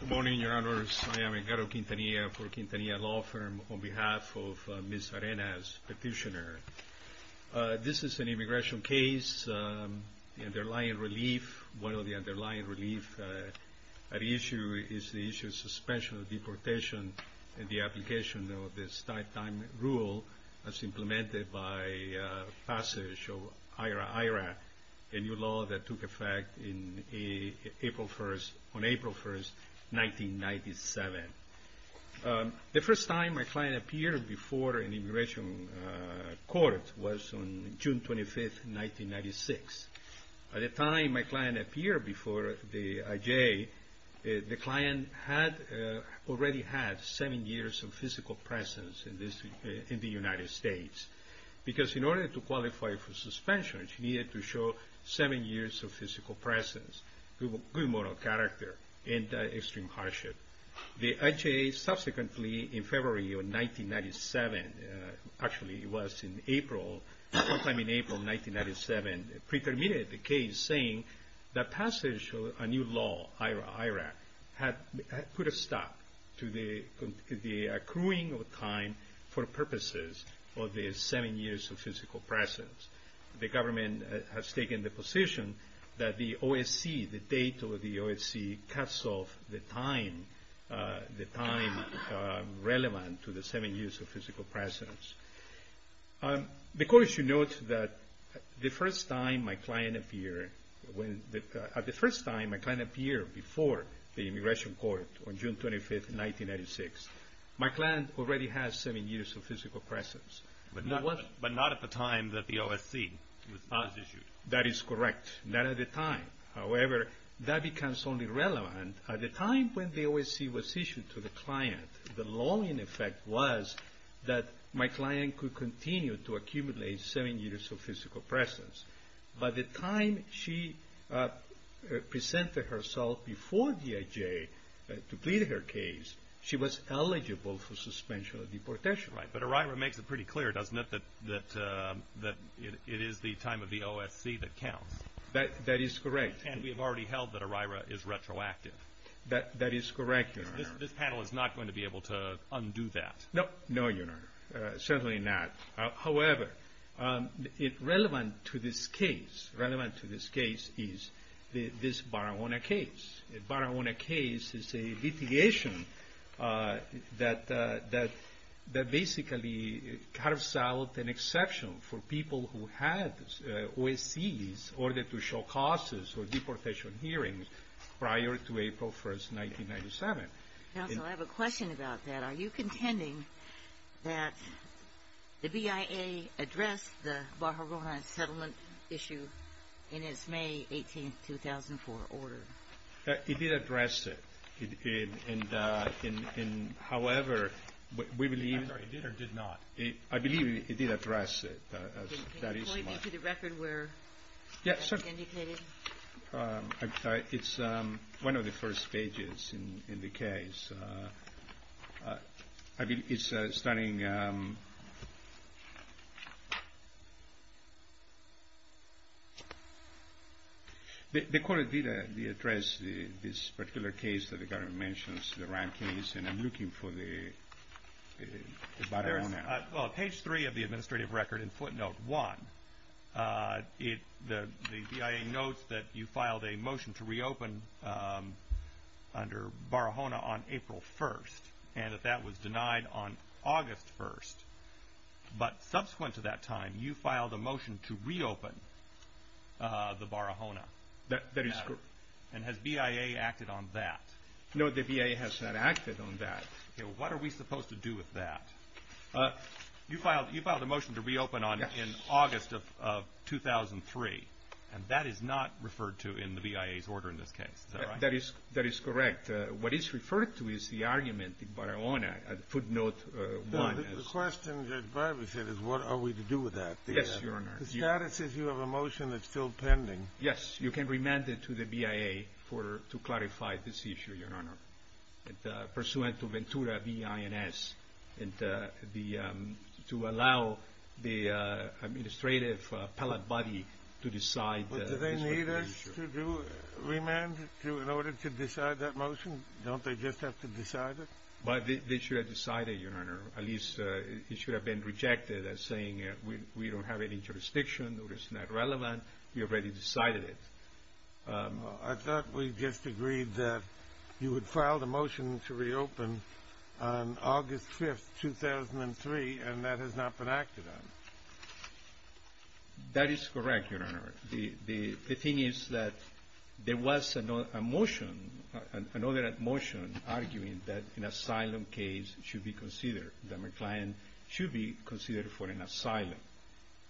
Good morning, Your Honors. I am Edgaro Quintanilla for Quintanilla Law Firm on behalf of Ms. Arenas, Petitioner. This is an immigration case. The underlying relief, one of the underlying relief at issue is the issue of suspension of deportation and the application of this time rule as implemented by passage of IRA-IRA, a new law that took effect on April 1, 1997. The first time my client appeared before an immigration court was on June 25, 1996. By the time my client appeared before the IJ, the client had already had seven years of physical presence in the United States. Because in order to qualify for suspension, she needed to show seven years of physical presence, good moral character, and extreme hardship. The IJ subsequently in February of 1997, actually it was in April, sometime in April 1997, preterminated the case saying that passage of a new law, IRA-IRA, had put a stop to the accruing of time for the purposes of the seven years of physical presence. The government has taken the position that the OSC, the date of the OSC, cuts off the time relevant to the seven years of physical presence. The court should note that the first time my client appeared, at the first time my client appeared before the immigration court on June 25, 1996, my client already had seven years of physical presence. But not at the time that the OSC was issued. That is correct. Not at the time. However, that becomes only relevant at the time when the OSC was issued to the client. The long-in effect was that my client could continue to accumulate seven years of physical presence. By the time she presented herself before the IJ to plead her case, she was eligible for suspension of deportation. But IRA-IRA makes it pretty clear, doesn't it, that it is the time of the OSC that counts. That is correct. And we have already held that IRA-IRA is retroactive. That is correct, Your Honor. This panel is not going to be able to undo that. No, Your Honor. Certainly not. However, relevant to this case is this Barahona case. Barahona case is a litigation that basically carves out an exception for people who had OSCs in order to show causes for deportation hearings prior to April 1, 1997. Counsel, I have a question about that. Are you contending that the BIA addressed the case? I believe it did address it. However, we believe it did or did not. I believe it did address it. Can you point me to the record where it's indicated? It's one of the first pages in the case. The court did address this particular case that the government mentions, the Ryan case, and I'm looking for the Barahona. Page 3 of the administrative record in footnote 1, the BIA notes that you filed a motion to reopen under Barahona on April 1st and that that was denied on August 1st. Subsequent to that time, you filed a motion to reopen the Barahona. Has BIA acted on that? No, the BIA has not acted on that. What are we supposed to do with that? You filed a motion to reopen on August of 2003, and that is not referred to in the BIA's order in this case. That is correct. What is referred to is the argument in Barahona, footnote 1. The question that Barahona said is what are we to do with that? Yes, Your Honor. The status is you have a motion that's still pending. Yes, you can remand it to the BIA to clarify this issue, Your Honor. Pursuant to Ventura B-I-N-S, to allow the administrative appellate body to decide this issue. But do they need us to remand in order to decide that motion? Don't they just have to decide it? They should have decided, Your Honor. At least it should have been rejected as saying we don't have any jurisdiction or it's not relevant. We already decided it. I thought we just agreed that you had filed a motion to reopen on August 5, 2003, and that has not been acted on. That is correct, Your Honor. The thing is that there was a motion, another motion, arguing that an asylum case should be considered, that my client should be considered for an asylum.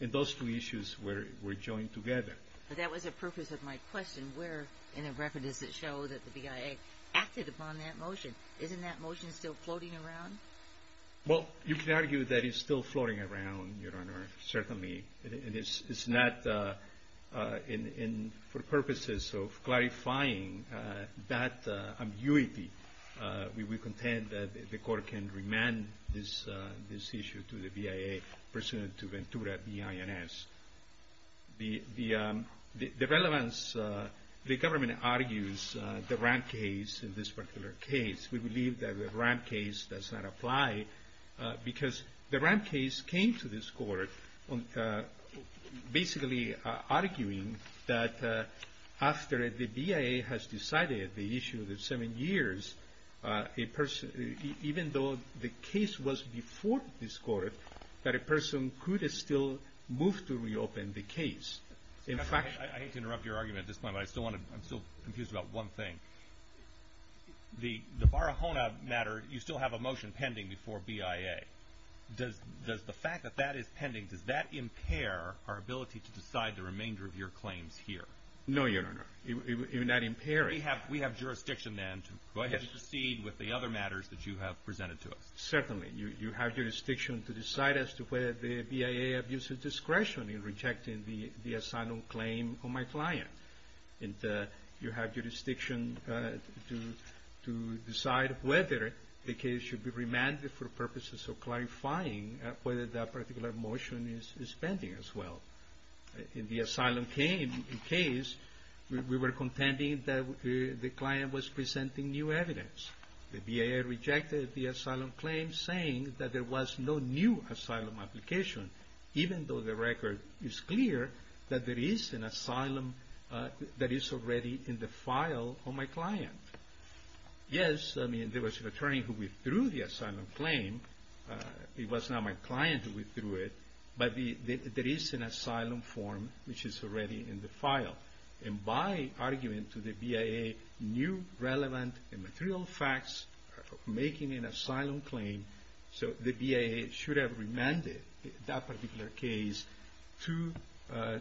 And those two issues were joined together. That was the purpose of my question. Where in the record does it show that the BIA acted upon that motion? Isn't that motion still floating around? Well, you can argue that it's still floating around, Your Honor, certainly. It's not, for purposes of clarifying that ambiguity, we contend that the court can remand this issue to the BIA pursuant to Ventura B.I.N.S. The relevance, the government argues the RAMP case in this particular case. We believe that the RAMP case does not apply because the RAMP case came to this court basically arguing that after the BIA has decided the issue of the seven years, even though the case was before this court, that a person could still move to reopen the case. I hate to interrupt your argument at this point, but I'm still confused about one thing. The Barahona matter, you still have a motion pending before BIA. Does the fact that that is pending, does that impair our ability to decide the remainder of your claims here? No, Your Honor. You're not impairing. We have jurisdiction then to proceed with the other matters that you have presented to us. Certainly. You have jurisdiction to decide as to whether the BIA abuses discretion in rejecting the asylum claim on my client. You have jurisdiction to decide whether the case should be remanded for purposes of clarifying whether that particular motion is pending as well. In the asylum case, we were contending that the client was presenting new evidence. The BIA rejected the asylum claim saying that there was no new asylum application, even though the record is clear that there is an asylum that is already in the file on my client. Yes, I mean, there was an attorney who withdrew the asylum claim. It was not my client who withdrew it, but there is an asylum form which is already in the file. And by arguing to the BIA new relevant and material facts of making an asylum claim, so the BIA should have remanded that particular case to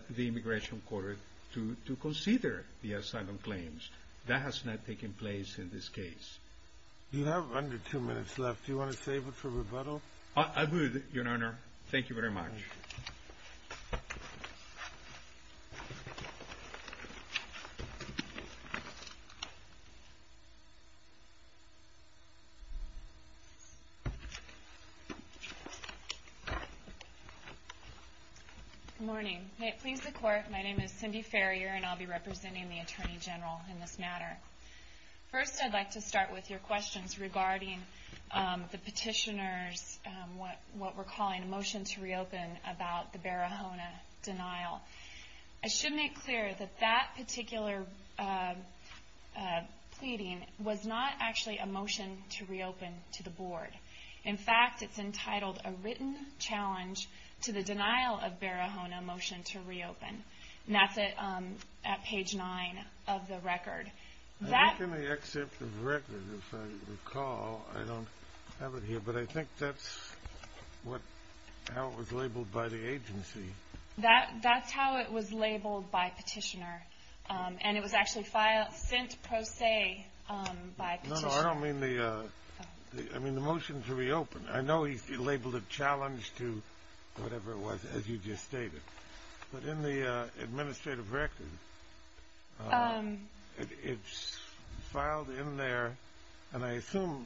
the immigration court to consider the asylum claims. That has not taken place in this case. You have under two minutes left. Do you want to save it for rebuttal? I would, Your Honor. Thank you very much. Good morning. May it please the Court, my name is Cindy Farrier and I'll be representing the Attorney General in this matter. First, I'd like to start with your questions regarding the petitioner's, what we're calling a motion to reopen about the Barahona denial. I should make clear that that particular pleading was not actually a motion to reopen to the Board. In fact, it's entitled, A Written Challenge to the Denial of Barahona Motion to Reopen. And that's at page nine of the record. How can I accept the record if I recall? I don't have it here, but I think that's how it was labeled by the agency. That's how it was labeled by petitioner. And it was actually sent pro se by petitioner. No, no, I don't mean the, I mean the motion to reopen. I know he labeled it challenge to whatever it was, as you just stated. But in the administrative record, it's filed in there, and I assume,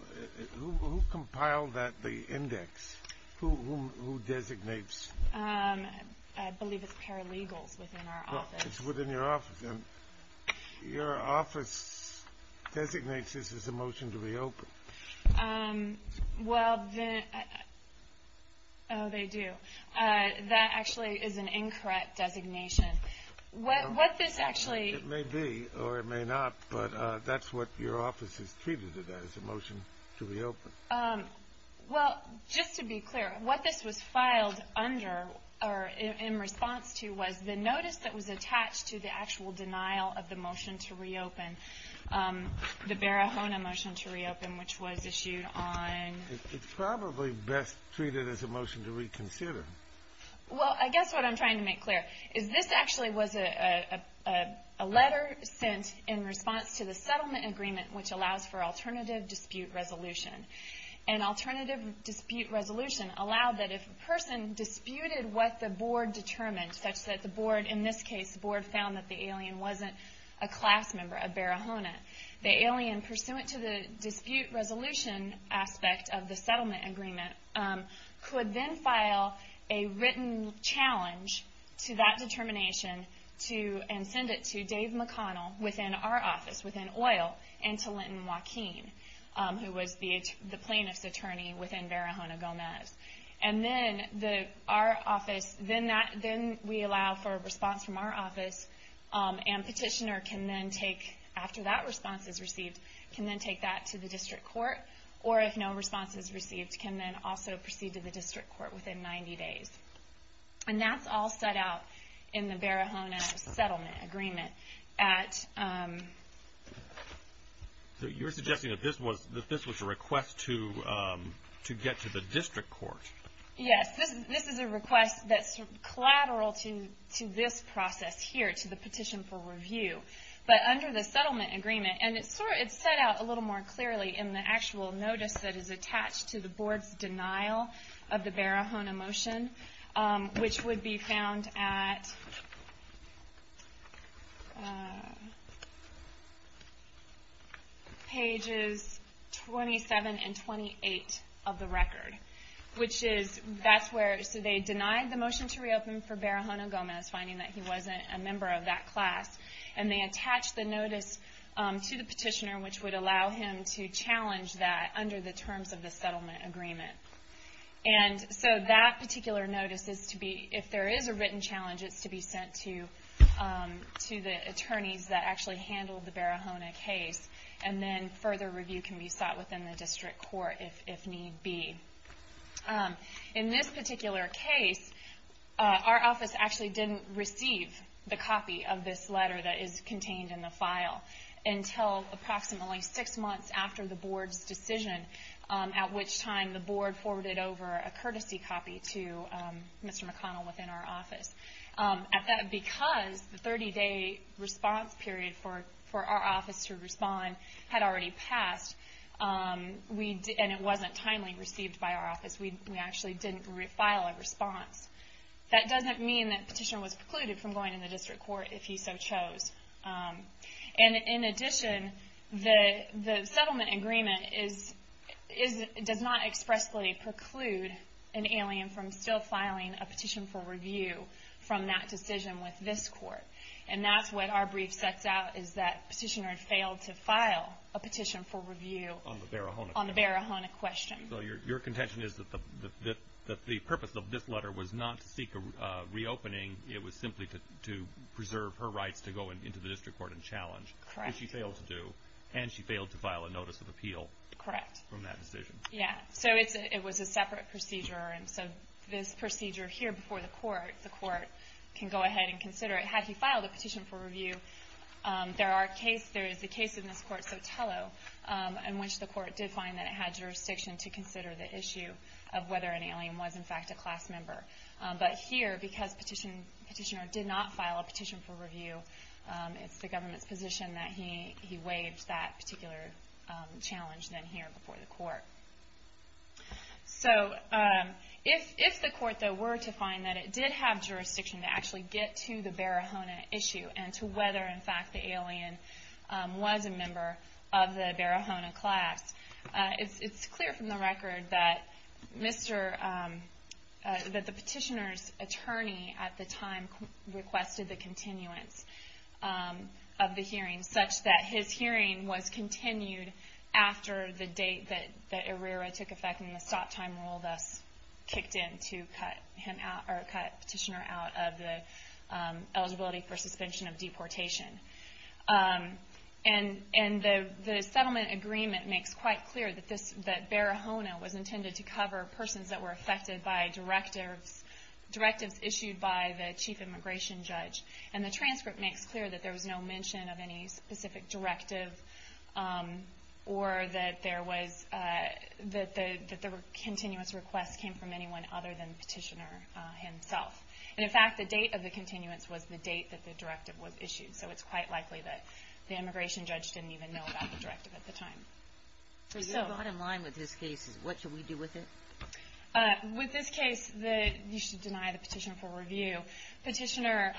who compiled that, the index? Who designates? I believe it's paralegals within our office. It's within your office, and your office designates this as a motion to reopen. Well, they do. That actually is an incorrect designation. What this actually... It may be, or it may not, but that's what your office has treated it as, a motion to reopen. Well, just to be clear, what this was filed under, or in response to, was the notice that was attached to the actual denial of the motion to reopen, the Barahona motion to reopen, which was issued on... It's probably best treated as a motion to reconsider. Well, I guess what I'm trying to make clear is this actually was a letter sent in response to the settlement agreement, which allows for alternative dispute resolution. And alternative dispute resolution allowed that if a person disputed what the board determined, such that the board, in this case, the board found that the alien wasn't a class member, a Barahona, the alien, pursuant to the dispute resolution aspect of the settlement agreement, could then file a written challenge to that determination, and send it to Dave McConnell within our office, within OIL, and to Linton Joaquin, who was the plaintiff's attorney within Barahona Gomez. And then our office... Then we allow for a response from our office, and petitioner can then take, after that response is received, can then take that to the district court, or if no response is received, can then also proceed to the district court within 90 days. And that's all set out in the Barahona settlement agreement at... So you're suggesting that this was a request to get to the district court? Yes, this is a request that's collateral to this process here, to the petition for review. But under the settlement agreement, and it's set out a little more clearly in the actual notice that is attached to the board's denial of the Barahona motion, which would be found at... pages 27 and 28 of the record. Which is, that's where... So they denied the motion to reopen for Barahona Gomez, finding that he wasn't a member of that class, and they attached the notice to the petitioner, which would allow him to challenge that under the terms of the settlement agreement. And so that particular notice is to be, if there is a written challenge, it's to be sent to the attorneys that actually handled the Barahona case, and then further review can be sought within the district court, if need be. In this particular case, our office actually didn't receive the copy of this letter that is contained in the file, until approximately six months after the board's decision, at which time the board forwarded over a courtesy copy to Mr. McConnell within our office. Because the 30-day response period for our office to respond had already passed, and it wasn't timely received by our office, we actually didn't file a response. That doesn't mean that the petitioner was precluded from going to the district court, if he so chose. And in addition, the settlement agreement does not expressly preclude an alien from still filing a petition for review from that decision with this court. And that's what our brief sets out, is that the petitioner failed to file a petition for review on the Barahona question. So your contention is that the purpose of this letter was not to seek a reopening, it was simply to preserve her rights to go into the district court and challenge. Correct. Which she failed to do. And she failed to file a notice of appeal. Correct. From that decision. Yeah. So it was a separate procedure, and so this procedure here before the court, the court can go ahead and consider it. Had he filed a petition for review, there is a case in this court, Sotelo, in which the court did find that it had jurisdiction to consider the issue of whether an alien was in fact a class member. But here, because the petitioner did not file a petition for review, it's the government's position that he waived that particular challenge then here before the court. So, if the court though were to find that it did have jurisdiction to actually get to the Barahona issue and to whether in fact the alien was a member of the Barahona class, it's clear from the record that the petitioner's attorney at the time requested the continuance of the hearing such that his hearing was continued after the date that Herrera took effect and the stop time rule thus kicked in to cut petitioner out of the eligibility for suspension of deportation. And the settlement agreement makes quite clear that Barahona was intended to cover persons that were affected by directives issued by the chief immigration judge. And the transcript makes clear that there was no mention of any specific directive or that the continuance request came from anyone other than the petitioner himself. And in fact, the date of the continuance was the date that the directive was issued. So it's quite likely that the immigration judge didn't even know about the directive at the time. So your bottom line with this case is what should we do with it? With this case, you should deny the petitioner for review. Petitioner,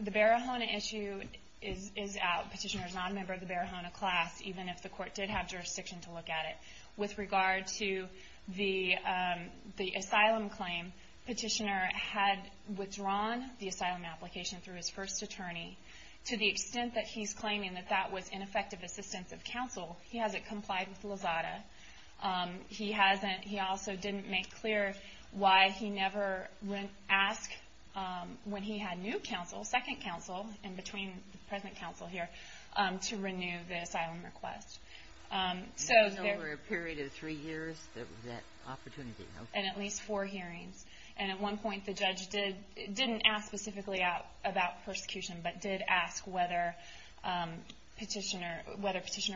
the Barahona issue is out. Petitioner is not a member of the Barahona class even if the court did have jurisdiction to look at it. With regard to the asylum claim, petitioner had withdrawn the asylum application through his first attorney. To the extent that he's claiming that that was ineffective assistance of counsel, he hasn't complied with Lazada. He also didn't make clear why he never asked when he had new counsel, second counsel, in between the present counsel here, to renew the asylum request. And over a period of three years, there was that opportunity, okay. And at least four hearings. And at one point, the judge didn't ask specifically about persecution, but did ask whether petitioner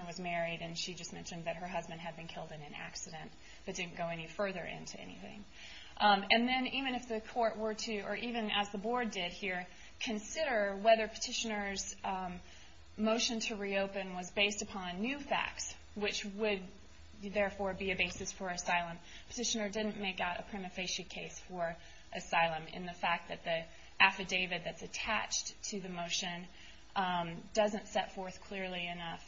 was married. And she just mentioned that her husband had been killed in an accident that didn't go any further into anything. And then even if the court were to, or even as the board did here, consider whether petitioner's motion to reopen was based upon new facts, which would therefore be a basis for asylum. Petitioner didn't make out a prima facie case for asylum in the fact that the affidavit that's attached to the motion doesn't set forth clearly enough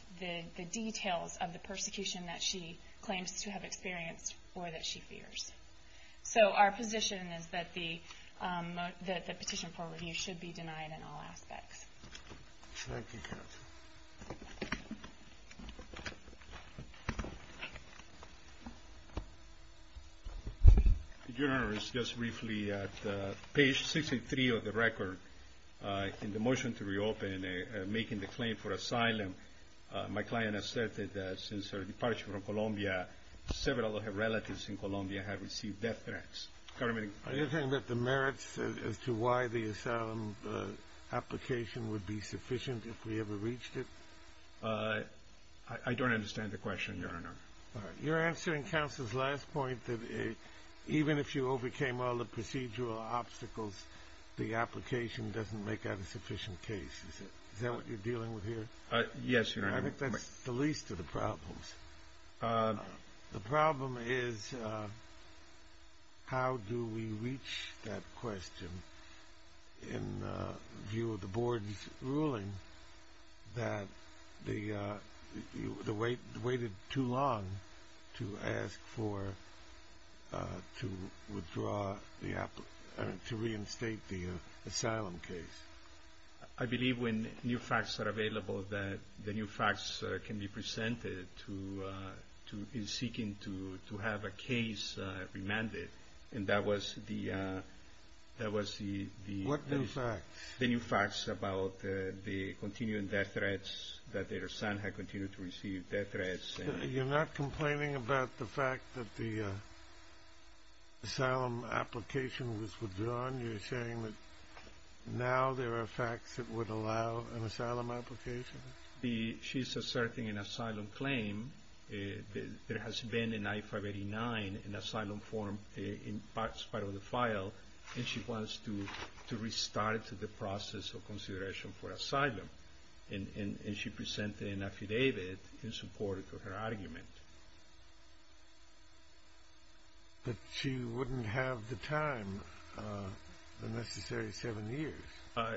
the details of the persecution that she claims to have experienced or that she fears. So our position is that the petition for review should be denied in all aspects. Thank you, counsel. Your Honor, it's just briefly at page 63 of the record in the motion to reopen making the claim for asylum my client asserted that since her departure from Colombia several of her relatives in Colombia have received death threats. Are you talking about the merits as to why the asylum application would be sufficient if we ever reached it? I don't understand the question, Your Honor. All right. You're answering counsel's last point that even if you overcame all the procedural obstacles the application doesn't make out a sufficient case. Is that what you're dealing with here? Yes, Your Honor. I think that's the least of the problems. The problem is how do we reach that question in view of the Board's ruling that you waited too long to ask for to withdraw to reinstate the asylum case? I believe when new facts are available that the new facts can be presented in seeking to have a case remanded and that was the that was the What new facts? The new facts about the continuing death threats that their son had continued to receive death threats. You're not complaining about the fact that the asylum application was withdrawn? You're saying that now there are facts that would allow an asylum application? She's asserting an asylum claim that has been in I-589 in asylum form in parts part of the file and she wants to restart the process of consideration for asylum and she presented an affidavit in support of her argument. But she wouldn't have the time the necessary seven years?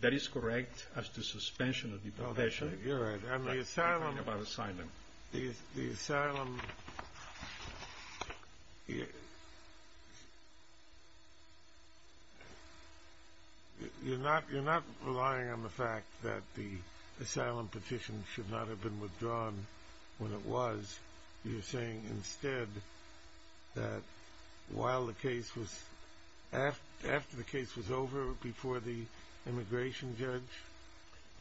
That is correct as to suspension of the petition. You're right. The asylum The asylum You're not relying on the fact that the asylum petition should not have been withdrawn when it was you're saying instead that while the case was after the case was over before the immigration judge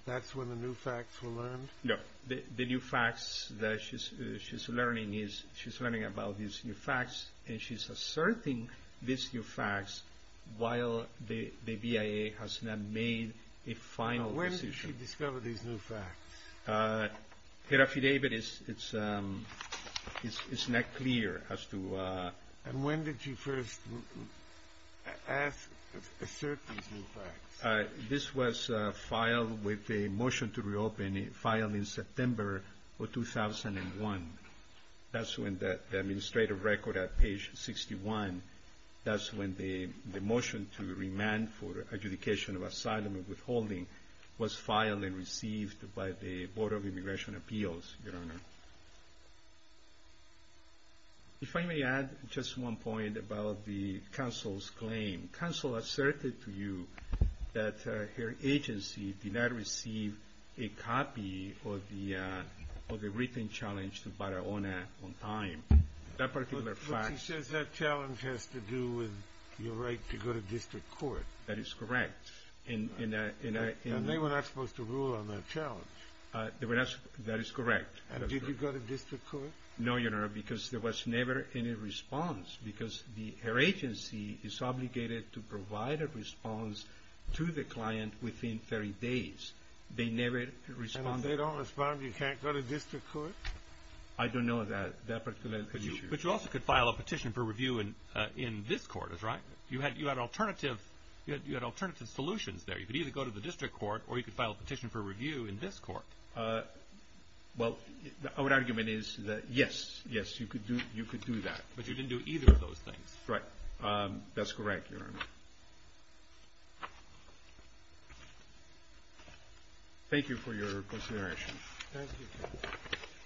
that's when the new facts were learned? No, the new facts that she's learning she's learning about these new facts and she's asserting these new facts while the BIA has not made a final decision. When did she discover these new facts? The affidavit is not clear as to And when did she first assert these new facts? This was filed with a motion to reopen filed in September 2001 that's when the administrative record at page 61 that's when the motion to remand for adjudication of asylum and withholding was filed and received by the Board of Immigration Appeals, Your Honor. If I may add just one point about the counsel's claim counsel asserted to you that her agency did not receive a copy of the written challenge to Barahona on time that particular fact But she says that challenge has to do with your right to go to district court That is correct And they were not supposed to rule on that challenge That is correct And did you go to district court? No, Your Honor, because there was never any response because her agency is obligated to provide a response to the client within 30 days They never responded And if they don't respond, you can't go to district court? I don't know that But you also could file a petition for review in this court You had alternative solutions there You could either go to the district court or you could file a petition for review in this court Well, our argument is that yes, yes, you could do that But you didn't do either of those things Right, that's correct, Your Honor Thank you for your consideration Thank you